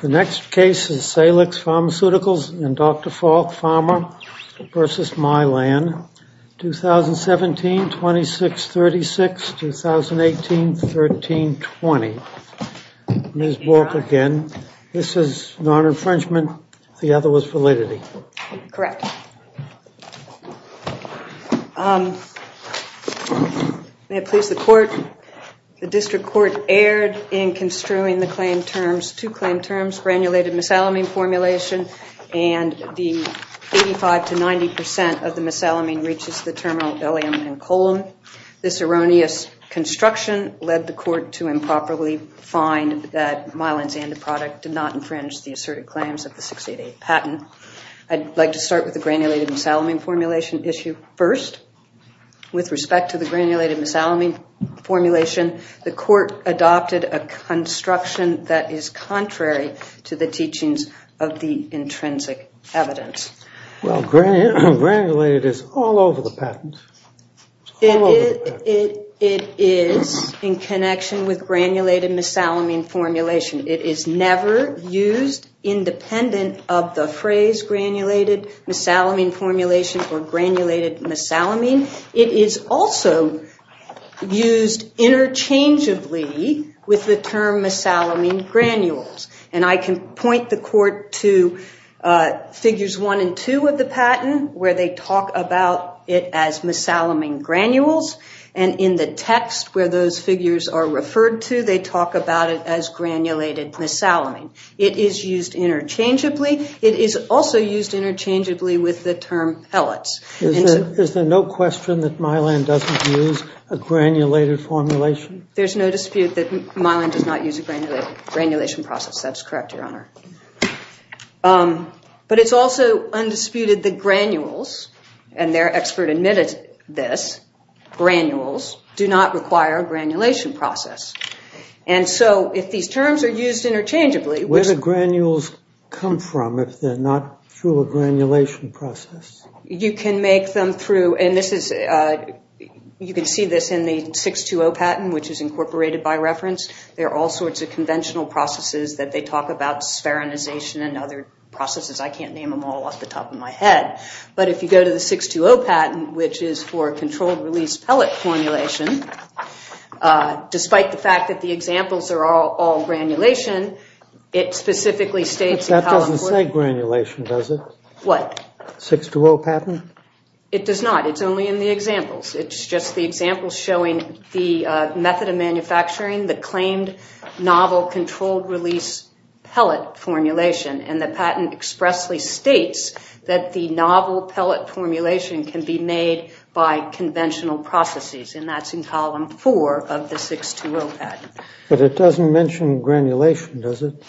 The next case is Salix Pharmaceuticals and Dr. Falk, Pharma v. Mylan, 2017-26-36, 2018-13-20. Ms. Falk again, this is non-infringement, the other was validity. Correct. May it please the court, the district court erred in construing the claim terms, two claim terms, granulated misalamine formulation, and the 85-90% of the misalamine reaches the terminal ileum and column. This erroneous construction led the court to improperly find that Mylan's antiproduct did not infringe the asserted claims of the 688 patent. I'd like to start with the granulated misalamine formulation issue first. With respect to the granulated misalamine formulation, the court adopted a construction that is contrary to the teachings of the intrinsic evidence. Well, granulated is all over the patent. It is in connection with granulated misalamine formulation. It is never used independent of the phrase granulated misalamine formulation or granulated misalamine. It is also used interchangeably with the term misalamine granules. And I can point the court to figures one and two of the patent where they talk about it as misalamine granules. And in the text where those figures are referred to, they talk about it as granulated misalamine. It is used interchangeably. It is also used interchangeably with the term pellets. Is there no question that Mylan doesn't use a granulated formulation? There's no dispute that Mylan does not use a granulation process. That's correct, Your Honor. But it's also undisputed that granules, and their expert admitted this, granules do not require a granulation process. And so if these terms are used interchangeably. Where do granules come from if they're not through a granulation process? You can make them through, and this is, you can see this in the 620 patent, which is incorporated by reference. There are all sorts of conventional processes that they talk about, spherinization and other processes. I can't name them all off the top of my head. But if you go to the 620 patent, which is for controlled release pellet formulation, despite the fact that the examples are all granulation, it specifically states. That doesn't say granulation, does it? What? The 620 patent? It does not. It's only in the examples. It's just the example showing the method of manufacturing, the claimed novel controlled release pellet formulation. And the patent expressly states that the novel pellet formulation can be made by conventional processes. And that's in column four of the 620 patent. But it doesn't mention granulation, does it?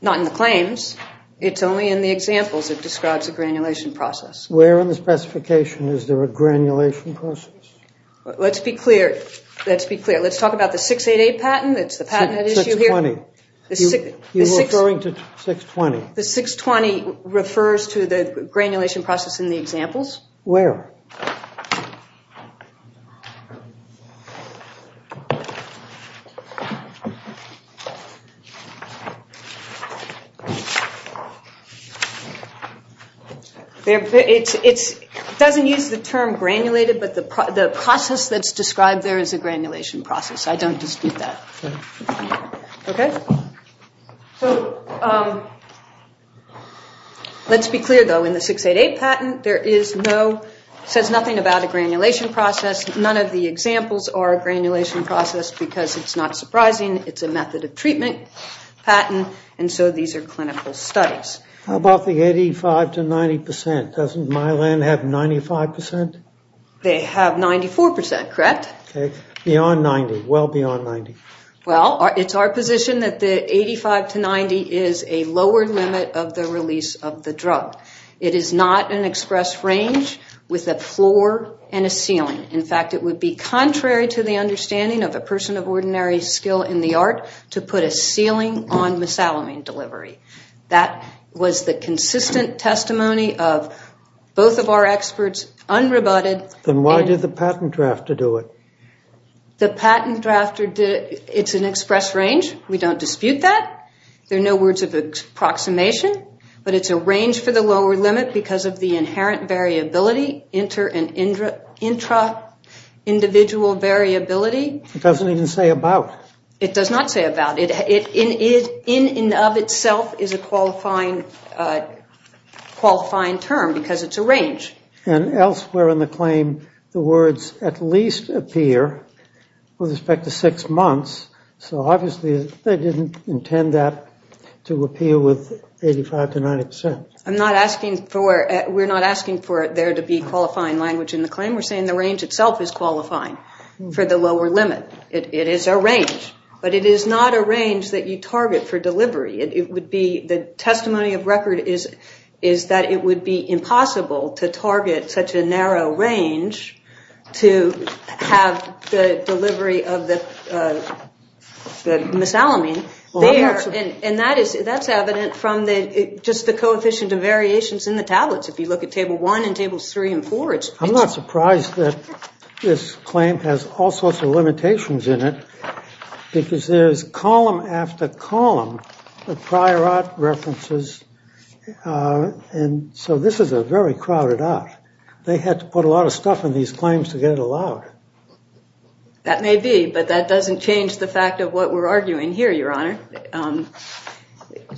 Not in the claims. It's only in the examples it describes a granulation process. Where in the specification is there a granulation process? Let's be clear. Let's be clear. Let's talk about the 688 patent. It's the patent that issued here. 620. You're referring to 620. The 620 refers to the granulation process in the examples. Where? It doesn't use the term granulated, but the process that's described there is a granulation process. I don't dispute that. Okay? So let's be clear, though. In the 688 patent, there is no, says nothing about a granulation process. None of the examples are a granulation process because it's not surprising. It's a method of treatment patent. And so these are clinical studies. How about the 85 to 90 percent? Doesn't Mylan have 95 percent? They have 94 percent, correct? Okay. Beyond 90. Well beyond 90. Well, it's our position that the 85 to 90 is a lower limit of the release of the drug. It is not an express range with a floor and a ceiling. In fact, it would be contrary to the understanding of a person of ordinary skill in the art to put a ceiling on misaligned delivery. That was the consistent testimony of both of our experts, unrebutted. Then why did the patent drafter do it? The patent drafter did it. It's an express range. We don't dispute that. There are no words of approximation. But it's a range for the lower limit because of the inherent variability, inter- and intra-individual variability. It doesn't even say about. It does not say about. In and of itself is a qualifying term because it's a range. And elsewhere in the claim, the words at least appear with respect to six months. So obviously they didn't intend that to appeal with 85 to 90 percent. I'm not asking for, we're not asking for there to be qualifying language in the claim. We're saying the range itself is qualifying for the lower limit. It is a range. But it is not a range that you target for delivery. It would be, the testimony of record is that it would be impossible to target such a narrow range to have the delivery of the misalignment there. And that is, that's evident from just the coefficient of variations in the tablets. If you look at table one and tables three and four. I'm not surprised that this claim has all sorts of limitations in it because there's column after column of prior art references. And so this is a very crowded out. They had to put a lot of stuff in these claims to get it allowed. That may be, but that doesn't change the fact of what we're arguing here, Your Honor.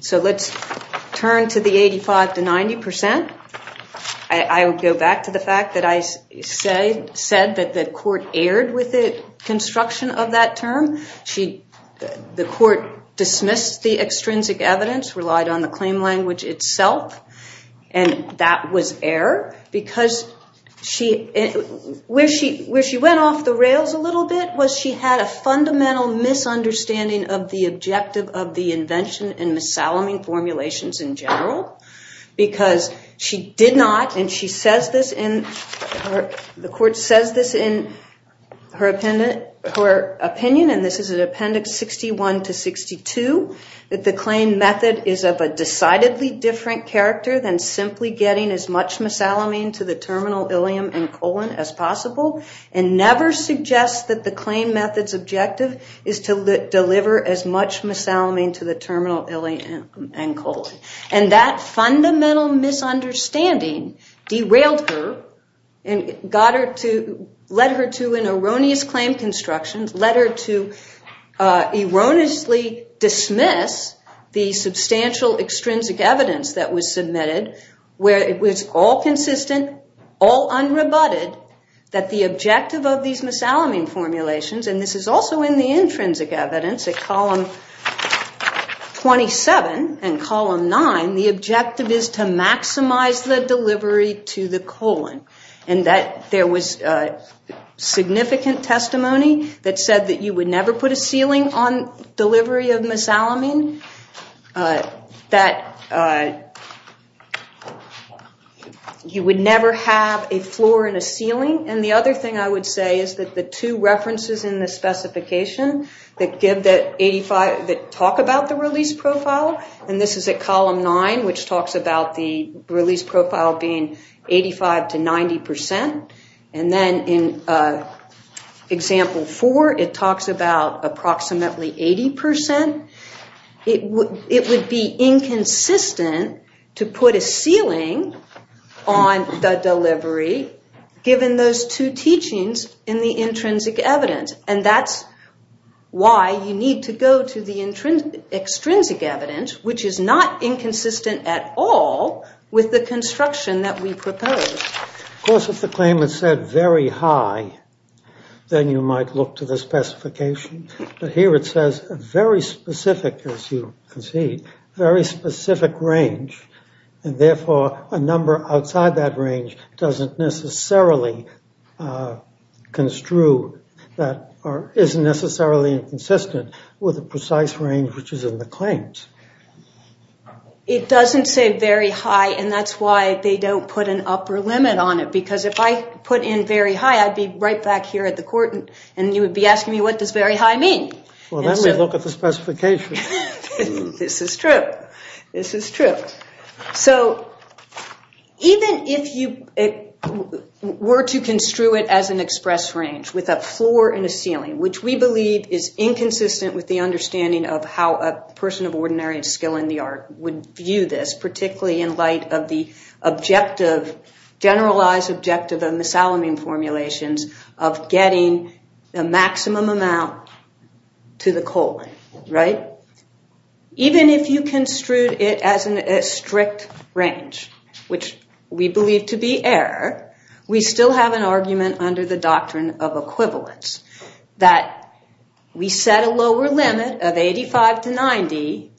So let's turn to the 85 to 90 percent. I would go back to the fact that I said that the court erred with the construction of that term. The court dismissed the extrinsic evidence, relied on the claim language itself. And that was error because where she went off the rails a little bit was she had a fundamental misunderstanding of the objective of the invention and misaligning formulations in general. Because she did not, and she says this in, the court says this in her opinion, and this is in appendix 61 to 62. That the claim method is of a decidedly different character than simply getting as much misalignment to the terminal ileum and colon as possible. And never suggests that the claim method's objective is to deliver as much misalignment to the terminal ileum and colon. And that fundamental misunderstanding derailed her and got her to, led her to an erroneous claim construction, led her to erroneously dismiss the substantial extrinsic evidence that was submitted, where it was all consistent, all unrebutted, that the objective of these misaligning formulations, and this is also in the intrinsic evidence at column 27 and column 9, the objective is to maximize the delivery to the colon. And that there was significant testimony that said that you would never put a ceiling on delivery of misalignment, that you would never have a floor and a ceiling. And the other thing I would say is that the two references in the specification that give that 85, that talk about the release profile, and this is at column 9, which talks about the release profile being 85 to 90 percent. And then in example 4, it talks about approximately 80 percent. It would be inconsistent to put a ceiling on the delivery, given those two teachings in the intrinsic evidence. And that's why you need to go to the extrinsic evidence, which is not inconsistent at all with the construction that we propose. Of course, if the claim is said very high, then you might look to the specification. But here it says very specific, as you can see, very specific range, and therefore a number outside that range doesn't necessarily construe, or isn't necessarily inconsistent with the precise range which is in the claims. It doesn't say very high, and that's why they don't put an upper limit on it, because if I put in very high, I'd be right back here at the court, and you would be asking me, what does very high mean? Well, then we'd look at the specification. This is true. This is true. So even if you were to construe it as an express range, with a floor and a ceiling, which we believe is inconsistent with the understanding of how a person of ordinary skill in the art would view this, particularly in light of the objective, generalized objective of misaligning formulations, of getting the maximum amount to the colon, right? Even if you construed it as a strict range, which we believe to be error, we still have an argument under the doctrine of equivalence, that we set a lower limit of 85 to 90,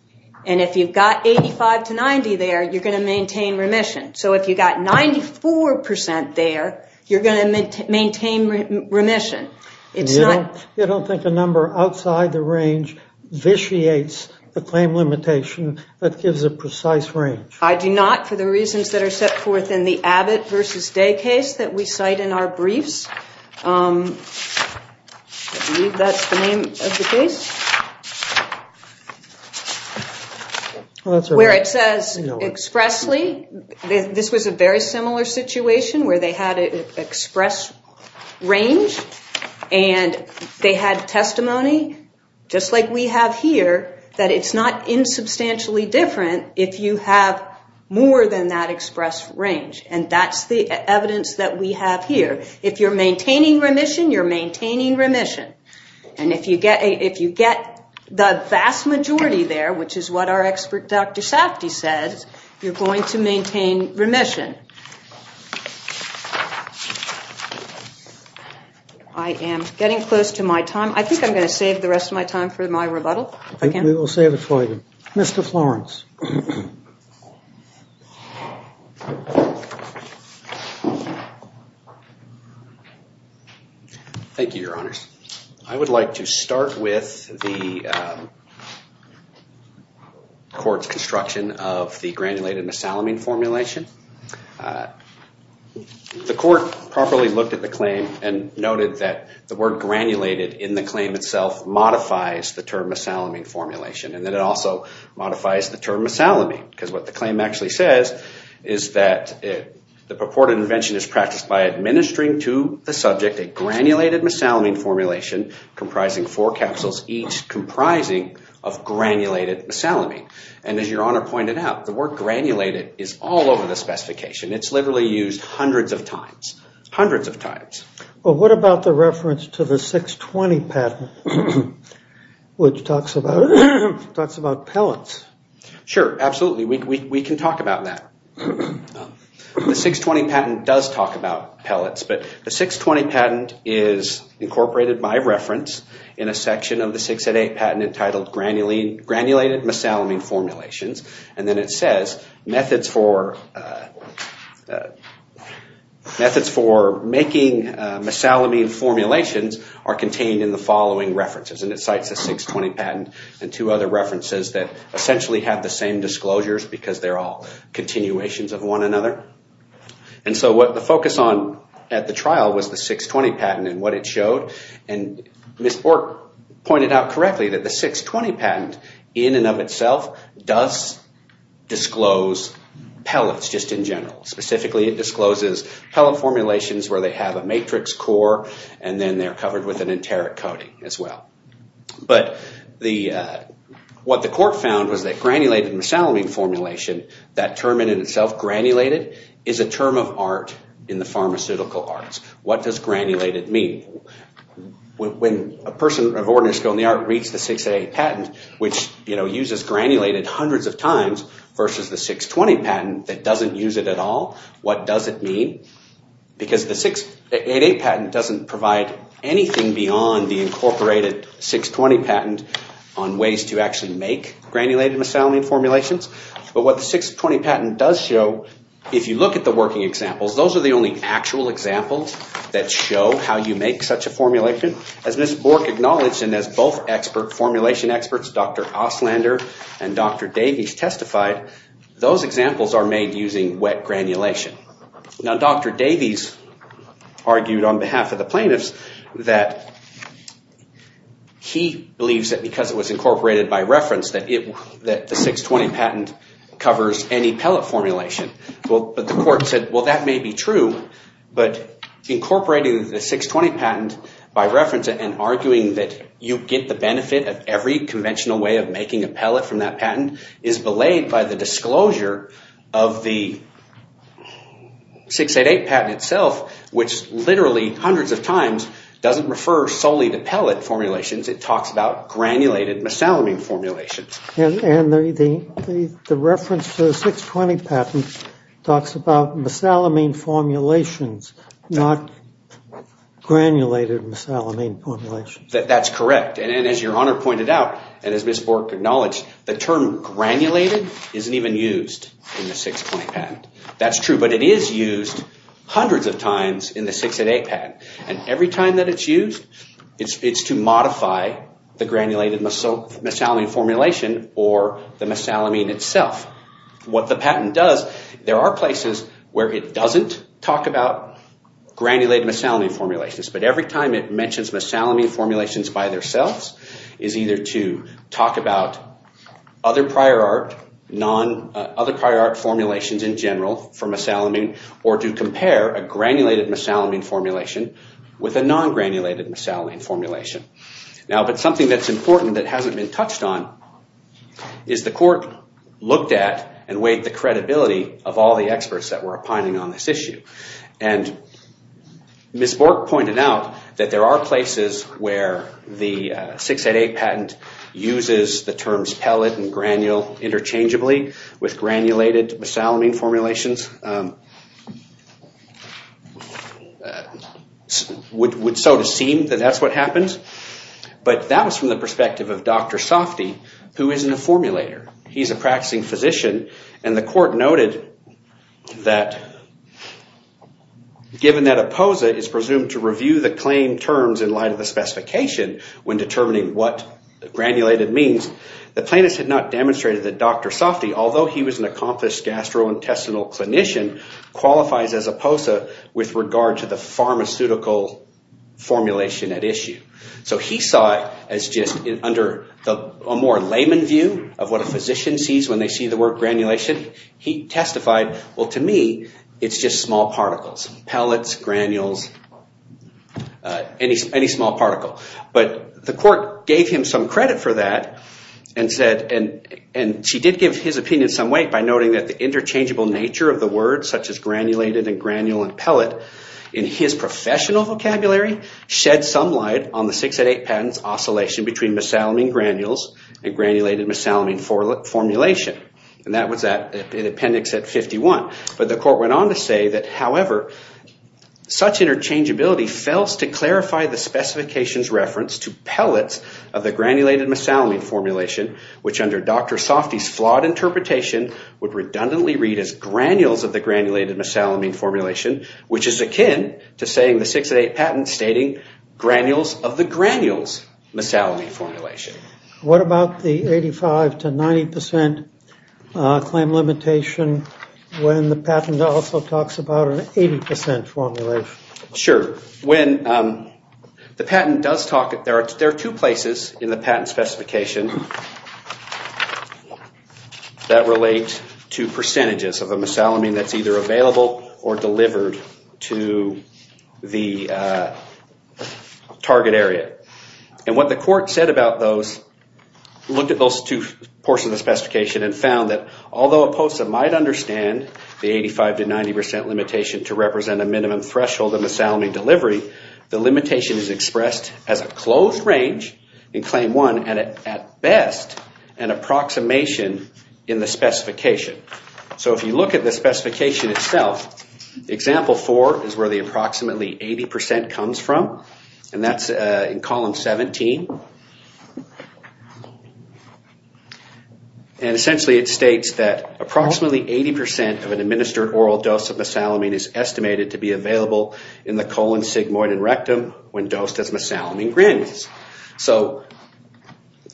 and if you've got 85 to 90 there, you're going to maintain remission. So if you've got 94 percent there, you're going to maintain remission. You don't think a number outside the range vitiates the claim limitation that gives a precise range? I do not, for the reasons that are set forth in the Abbott versus Day case that we cite in our briefs. I believe that's the name of the case. Where it says expressly, this was a very similar situation where they had an express range, and they had testimony, just like we have here, that it's not insubstantially different if you have more than that express range. And that's the evidence that we have here. If you're maintaining remission, you're maintaining remission. And if you get the vast majority there, which is what our expert Dr. Safdie says, you're going to maintain remission. I am getting close to my time. I think I'm going to save the rest of my time for my rebuttal. We will save it for you. Mr. Florence. Thank you, Your Honors. I would like to start with the court's construction of the granulated misalamine formulation. The court properly looked at the claim and noted that the word granulated in the claim itself modifies the term misalamine formulation, and that it also modifies the term misalamine. Because what the claim actually says is that the purported invention is practiced by administering to the subject a granulated misalamine formulation, comprising four capsules, each comprising of granulated misalamine. And as Your Honor pointed out, the word granulated is all over the specification. It's literally used hundreds of times. Hundreds of times. Well, what about the reference to the 620 patent, which talks about pellets? Sure, absolutely. We can talk about that. The 620 patent does talk about pellets, but the 620 patent is incorporated by reference in a section of the 608 patent entitled Granulated Misalamine Formulations. And then it says methods for making misalamine formulations are contained in the following references. And it cites the 620 patent and two other references that essentially have the same disclosures because they're all continuations of one another. And so what the focus on at the trial was the 620 patent and what it showed. And Ms. Bork pointed out correctly that the 620 patent in and of itself does disclose pellets just in general. Specifically, it discloses pellet formulations where they have a matrix core and then they're covered with an enteric coating as well. But what the court found was that granulated misalamine formulation, that term in itself, granulated, is a term of art in the pharmaceutical arts. What does granulated mean? When a person of ordinary skill in the art reads the 608 patent, which uses granulated hundreds of times versus the 620 patent that doesn't use it at all, what does it mean? Because the 608 patent doesn't provide anything beyond the incorporated 620 patent on ways to actually make granulated misalamine formulations. But what the 620 patent does show, if you look at the working examples, those are the only actual examples that show how you make such a formulation. As Ms. Bork acknowledged, and as both formulation experts, Dr. Ostlander and Dr. Davies, testified, those examples are made using wet granulation. Now, Dr. Davies argued on behalf of the plaintiffs that he believes that because it was incorporated by reference that the 620 patent is a form of art. And that the 620 patent covers any pellet formulation. But the court said, well, that may be true, but incorporating the 620 patent by reference and arguing that you get the benefit of every conventional way of making a pellet from that patent is belayed by the disclosure of the 688 patent itself, which literally hundreds of times doesn't refer solely to pellet formulations. It talks about granulated misalamine formulations. And the reference to the 620 patent talks about misalamine formulations, not granulated misalamine formulations. That's correct. And as your Honor pointed out, and as Ms. Bork acknowledged, the term granulated isn't even used in the 620 patent. That's true, but it is used hundreds of times in the 608 patent. It's not mentioned by the granulated misalamine formulation or the misalamine itself. What the patent does, there are places where it doesn't talk about granulated misalamine formulations. But every time it mentions misalamine formulations by themselves is either to talk about other prior art formulations in general for misalamine, or to compare a granulated misalamine formulation with a non-granulated misalamine formulation. Now, but something that's important that hasn't been touched on is the court looked at and weighed the credibility of all the experts that were opining on this issue. And Ms. Bork pointed out that there are places where the 688 patent uses the terms pellet and granule interchangeably with granulated misalamine formulations. Now, it would so to seem that that's what happens, but that was from the perspective of Dr. Softe, who isn't a formulator. He's a practicing physician, and the court noted that given that a POSA is presumed to review the claim terms in light of the specification when determining what granulated means, the plaintiffs had not demonstrated that Dr. Softe, although he was an accomplished gastrointestinal clinician, qualifies as a POSA with regard to the pharmaceutical formulation at issue. So he saw it as just under a more layman view of what a physician sees when they see the word granulation. He testified, well, to me, it's just small particles, pellets, granules, any small particle. But the court gave him some credit for that, and she did give his opinion some weight by noting that the interchangeable nature of the word, such as granulated and granule and pellet, in his professional vocabulary, shed some light on the 688 patent's oscillation between misalamine granules and granulated misalamine formulation. And that was in appendix at 51, but the court went on to say that, however, such interchangeability fails to clarify the specification's reference to pellets of the granulated misalamine formulation, which under Dr. Softe's flawed interpretation would redundantly read as granules of the granulated misalamine formulation, which is akin to saying the 688 patent stating granules of the granules misalamine formulation. What about the 85 to 90 percent claim limitation when the patent also talks about an 80 percent formulation? Sure. When the patent does talk, there are two places in the patent specification that relate to percentages of the misalamine that's either available or delivered to the target area. And what the court said about those, looked at those two portions of the specification and found that, although a POSA might understand the 85 to 90 percent limitation to represent a minimum threshold of misalamine delivery, the limitation is expressed as a closed range in claim one and, at best, an approximation in the specification. So if you look at the specification itself, example four is where the approximately 80 percent comes from, and that's in column 17. And essentially it states that approximately 80 percent of an administered oral dose of misalamine is estimated to be available in the colon, sigmoid, and rectum when dosed as misalamine granules. So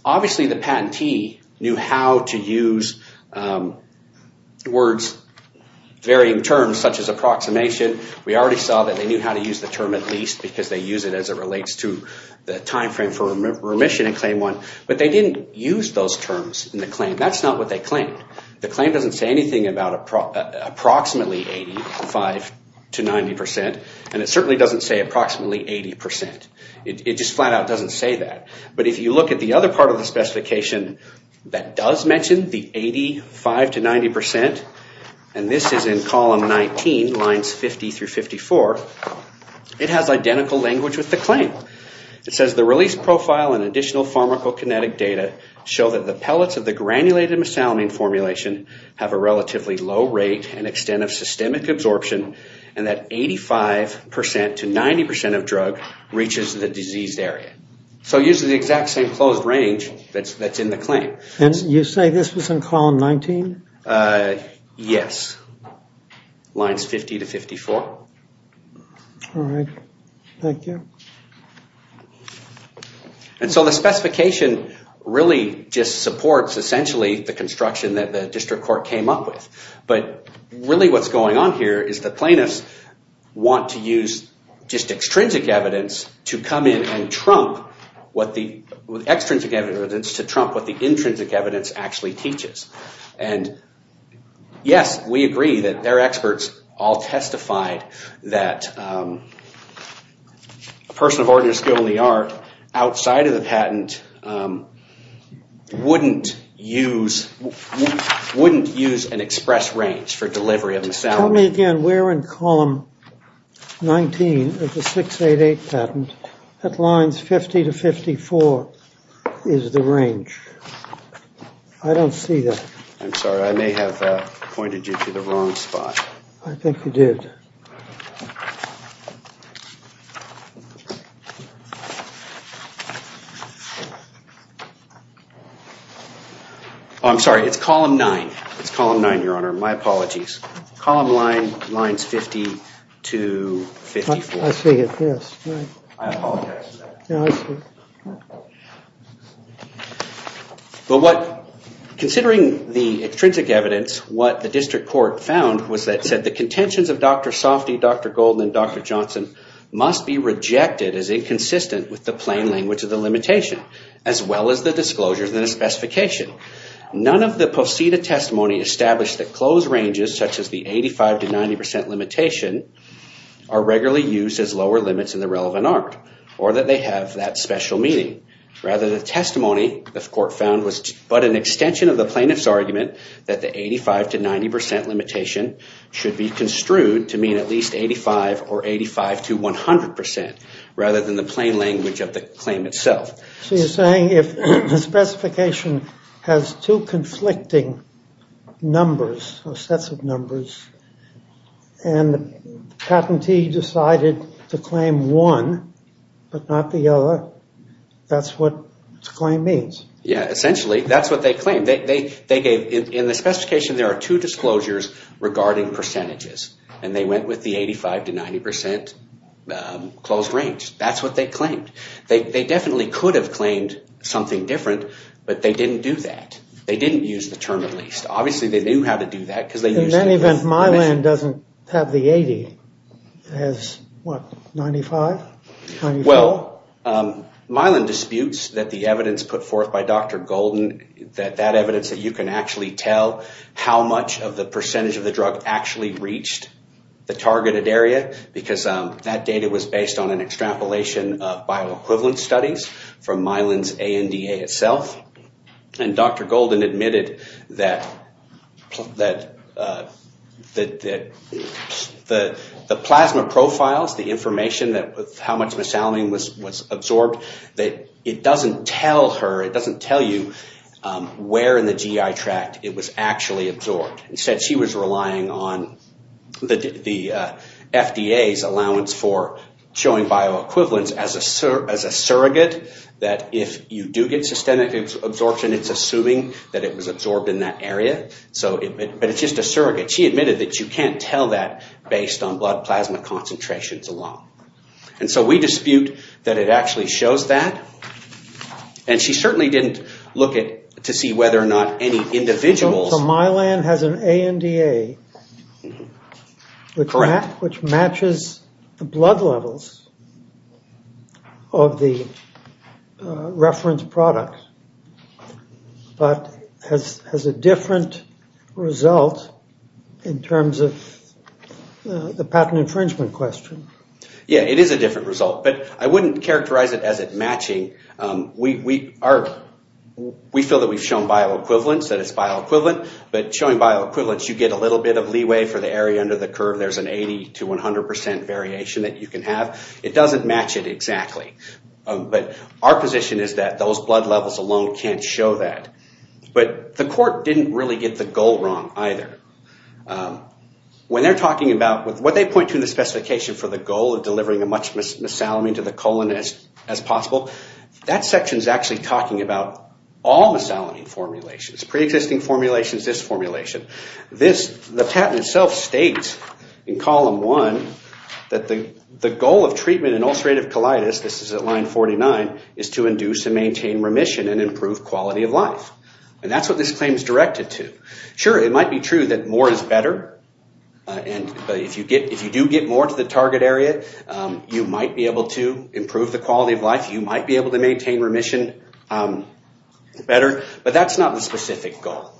obviously the patentee knew how to use words, varying terms such as approximation. We already saw that they knew how to use the term at least because they use it as it relates to the timeframe for remission in claim one. But they didn't use those terms in the claim. That's not what they claimed. The claim doesn't say anything about approximately 85 to 90 percent, and it certainly doesn't say approximately 80 percent. It just flat out doesn't say that. But if you look at the other part of the specification that does mention the 85 to 90 percent, and this is in column 19, lines 50 through 54, it has identical language with the claim. It says the release profile and additional pharmacokinetic data show that the pellets of the granulated misalamine formulation have a relatively low rate and extent of systemic absorption and that 85 percent to 90 percent of drug reaches the diseased area. So it uses the exact same closed range that's in the claim. And you say this was in column 19? Yes. Lines 50 to 54. And so the specification really just supports essentially the construction that the district court came up with. But really what's going on here is the plaintiffs want to use just extrinsic evidence to come in and trump, extrinsic evidence to trump what the intrinsic evidence actually teaches. And yes, we agree that their experts all testified that a person of ordinary skill in the art outside of the patent wouldn't use an express range for delivery of misalignments. Tell me again where in column 19 of the 688 patent at lines 50 to 54 is the range. I don't see that. I'm sorry. I may have pointed you to the wrong spot. I'm sorry. It's column 9. It's column 9, Your Honor. My apologies. Column line lines 50 to 54. Considering the extrinsic evidence, what the district court found was that said the contentions of Dr. Softy, Dr. Golden, and Dr. Johnson must be rejected as inconsistent with the plain language of the limitation. As well as the disclosure of the specification. None of the posited testimony established that closed ranges such as the 85 to 90% limitation are regularly used as lower limits in the relevant art or that they have that special meaning. Rather, the testimony the court found was but an extension of the plaintiff's argument that the 85 to 90% limitation should be construed to mean at least 85 or 85 to 100% rather than the plain language of the claim itself. So you're saying if the specification has two conflicting numbers or sets of numbers and the patentee decided to claim one but not the other, that's what the claim means? Yeah. Essentially, that's what they claimed. In the specification, there are two disclosures regarding percentages. And they went with the 85 to 90% closed range. That's what they claimed. They definitely could have claimed something different, but they didn't do that. They didn't use the term at least. Obviously, they knew how to do that. In that event, Mylan doesn't have the 80. It has, what, 95? Well, Mylan disputes that the evidence put forth by Dr. Golden, that that evidence that you can actually tell how much of the percentage of the drug actually reached the targeted area because that data was based on an extrapolation of bioequivalent studies from Mylan's ANDA itself. And Dr. Golden admitted that the plasma profiles, the information that was found in the plasma profiles, how much mesalamine was absorbed, that it doesn't tell her, it doesn't tell you where in the GI tract it was actually absorbed. Instead, she was relying on the FDA's allowance for showing bioequivalence as a surrogate, that if you do get systemic absorption, it's assuming that it was absorbed in that area. But it's just a surrogate. She admitted that you can't tell that based on blood plasma concentrations alone. And so we dispute that it actually shows that. And she certainly didn't look to see whether or not any individuals... So Mylan has an ANDA which matches the blood levels of the reference product, but has a different result in terms of the patent infringement question. Yeah, it is a different result, but I wouldn't characterize it as it matching. We feel that we've shown bioequivalence, that it's bioequivalent, but showing bioequivalence, you get a little bit of leeway for the area under the curve. There's an 80 to 100 percent variation that you can have. It doesn't match it exactly. But our position is that those blood levels alone can't show that. But the court didn't really get the goal wrong either. What they point to in the specification for the goal of delivering as much mesalamine to the colon as possible, that section is actually talking about all mesalamine formulations, pre-existing formulations, this formulation. The patent itself states in column one that the goal of treatment in ulcerative colitis, this is at line 49, is to induce and maintain remission and improve quality of life. And that's what this claim is directed to. Sure, it might be true that more is better, and if you do get more to the target area, you might be able to improve the quality of life, you might be able to maintain remission better, but that's not the specific goal.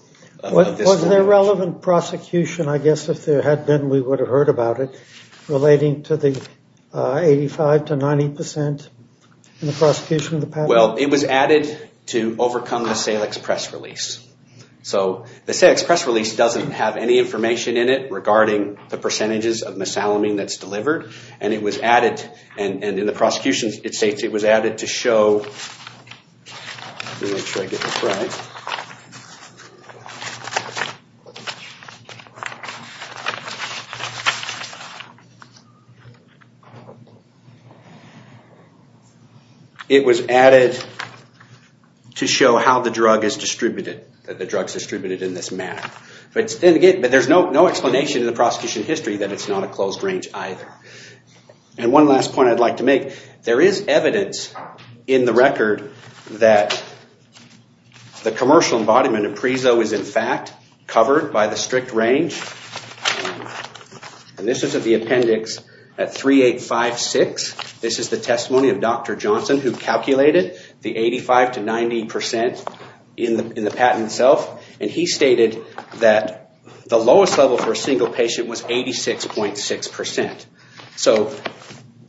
Was there relevant prosecution, I guess if there had been we would have heard about it, relating to the 85 to 90 percent in the prosecution of the patent? Well, it was added to overcome the Salix press release. The Salix press release doesn't have any information in it regarding the percentages of mesalamine that's delivered. And it was added, and in the prosecution it states it was added to show... It was added to show how the drug is distributed, that the drug is distributed in this manner. But there's no explanation in the prosecution history that it's not a closed range either. And one last point I'd like to make, there is evidence in the record that the commercial embodiment of Prezo is in fact covered by the strict range. And this is at the appendix at 3856. This is the testimony of Dr. Johnson who calculated the 85 to 90 percent in the patent itself. And he stated that the lowest level for a single patient was 86.6 percent. So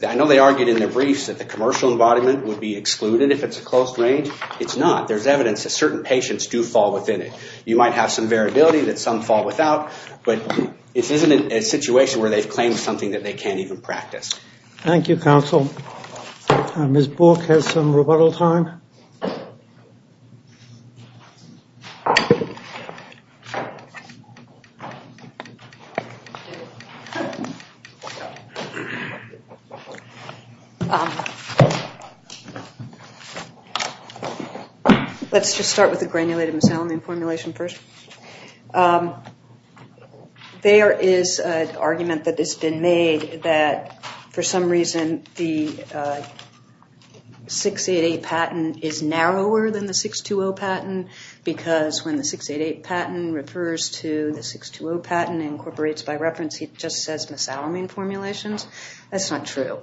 I know they argued in their briefs that the commercial embodiment would be excluded if it's a closed range. It's not. There's evidence that certain patients do fall within it. You might have some variability that some fall without, but this isn't a situation where they've claimed something that they can't even practice. Thank you, counsel. Ms. Bork has some rebuttal time. Let's just start with the granulated miscellany formulation first. There is an argument that has been made that for some reason the 688 patent is narrower than the 620 patent. Because when the 688 patent refers to the 620 patent incorporates by reference, it just says miscellany formulations. That's not true.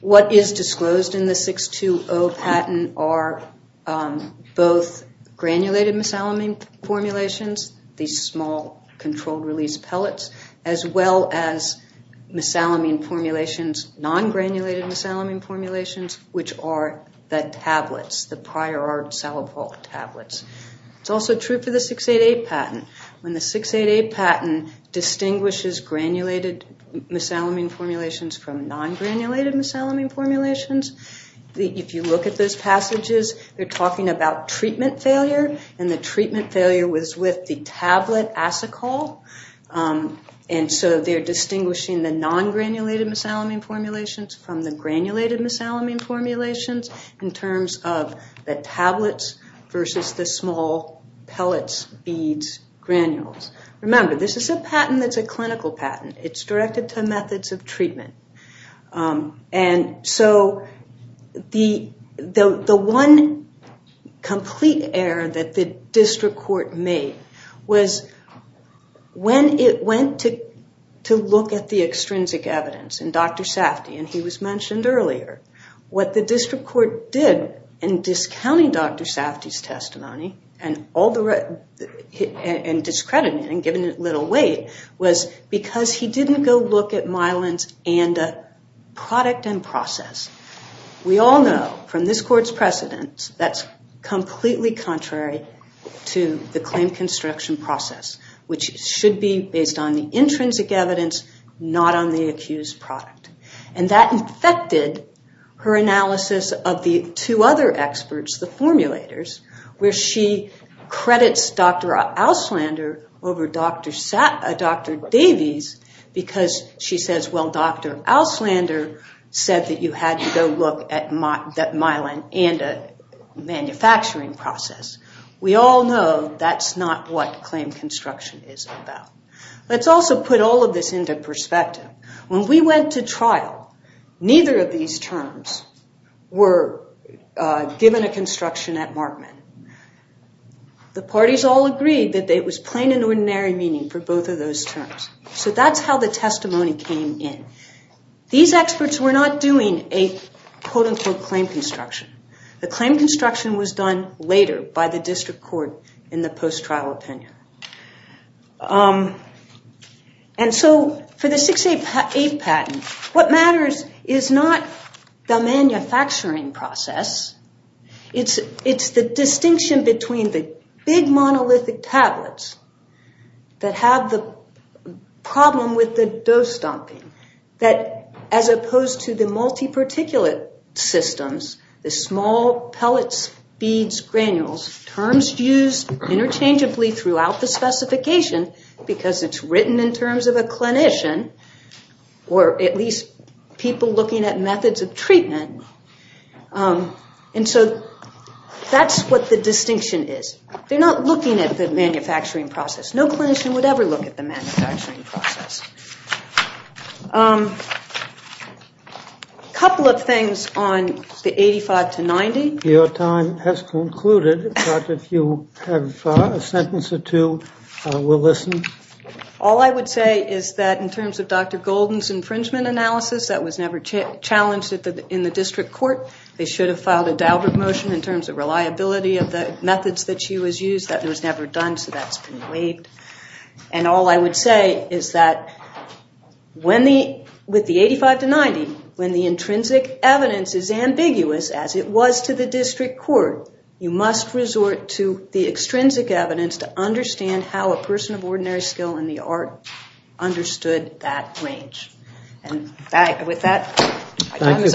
What is disclosed in the 620 patent are both granulated miscellany formulations, these small controlled release pellets, as well as miscellany formulations, non-granulated miscellany formulations, which are the tablets, the prior art cellophile tablets. It's also true for the 688 patent. The 680 patent does not disclose granulated miscellany formulations from non-granulated miscellany formulations. If you look at those passages, they're talking about treatment failure, and the treatment failure was with the tablet acycol. They're distinguishing the non-granulated miscellany formulations from the granulated miscellany formulations in terms of the tablets versus the small pellets, beads, granules. Remember, this is a patent that's a clinical patent. It's directed to methods of treatment. The one complete error that the district court made was when it went to look at the extrinsic evidence in Dr. Safdie, and he was mentioned earlier, what the district court did in discounting Dr. Safdie's testimony and discrediting it, was to look at the evidence. What the district court did in discounting Dr. Safdie's testimony and giving it little weight was because he didn't go look at Myelin's ANDA product and process. We all know from this court's precedent that's completely contrary to the claim construction process, which should be based on the intrinsic evidence, not on the accused product. And that infected her analysis of the two other experts, the formulators, where she credits Dr. Auslander over Dr. Safdie. Or Dr. Davies, because she says, well, Dr. Auslander said that you had to go look at Myelin ANDA manufacturing process. We all know that's not what claim construction is about. Let's also put all of this into perspective. When we went to trial, neither of these terms were given a construction at Markman. The parties all agreed that it was plain and ordinary meaning for both of those terms. So that's how the testimony came in. These experts were not doing a quote-unquote claim construction. The claim construction was done later by the district court in the post-trial opinion. And so for the 6A8 patent, what matters is not the manufacturing process. It's the distinction between the big monolithic tablets that have the problem with the dose dumping, that as opposed to the multi-particulate systems, the small pellets, beads, granules, terms used interchangeably throughout the specification, because it's written in terms of a clinician, or at least people looking at methods of treatment. And so that's what the distinction is. They're not looking at the manufacturing process. A couple of things on the 85 to 90. All I would say is that in terms of Dr. Golden's infringement analysis, that was never challenged in the district court. They should have filed a Daubert motion in terms of reliability of the methods that she was using. That was never done, so that's been waived. And all I would say is that with the 85 to 90, when the intrinsic evidence is ambiguous, as it was to the district court, you must resort to the extrinsic evidence to understand how a person of ordinary skill in the art understood that range. And with that, my time is up.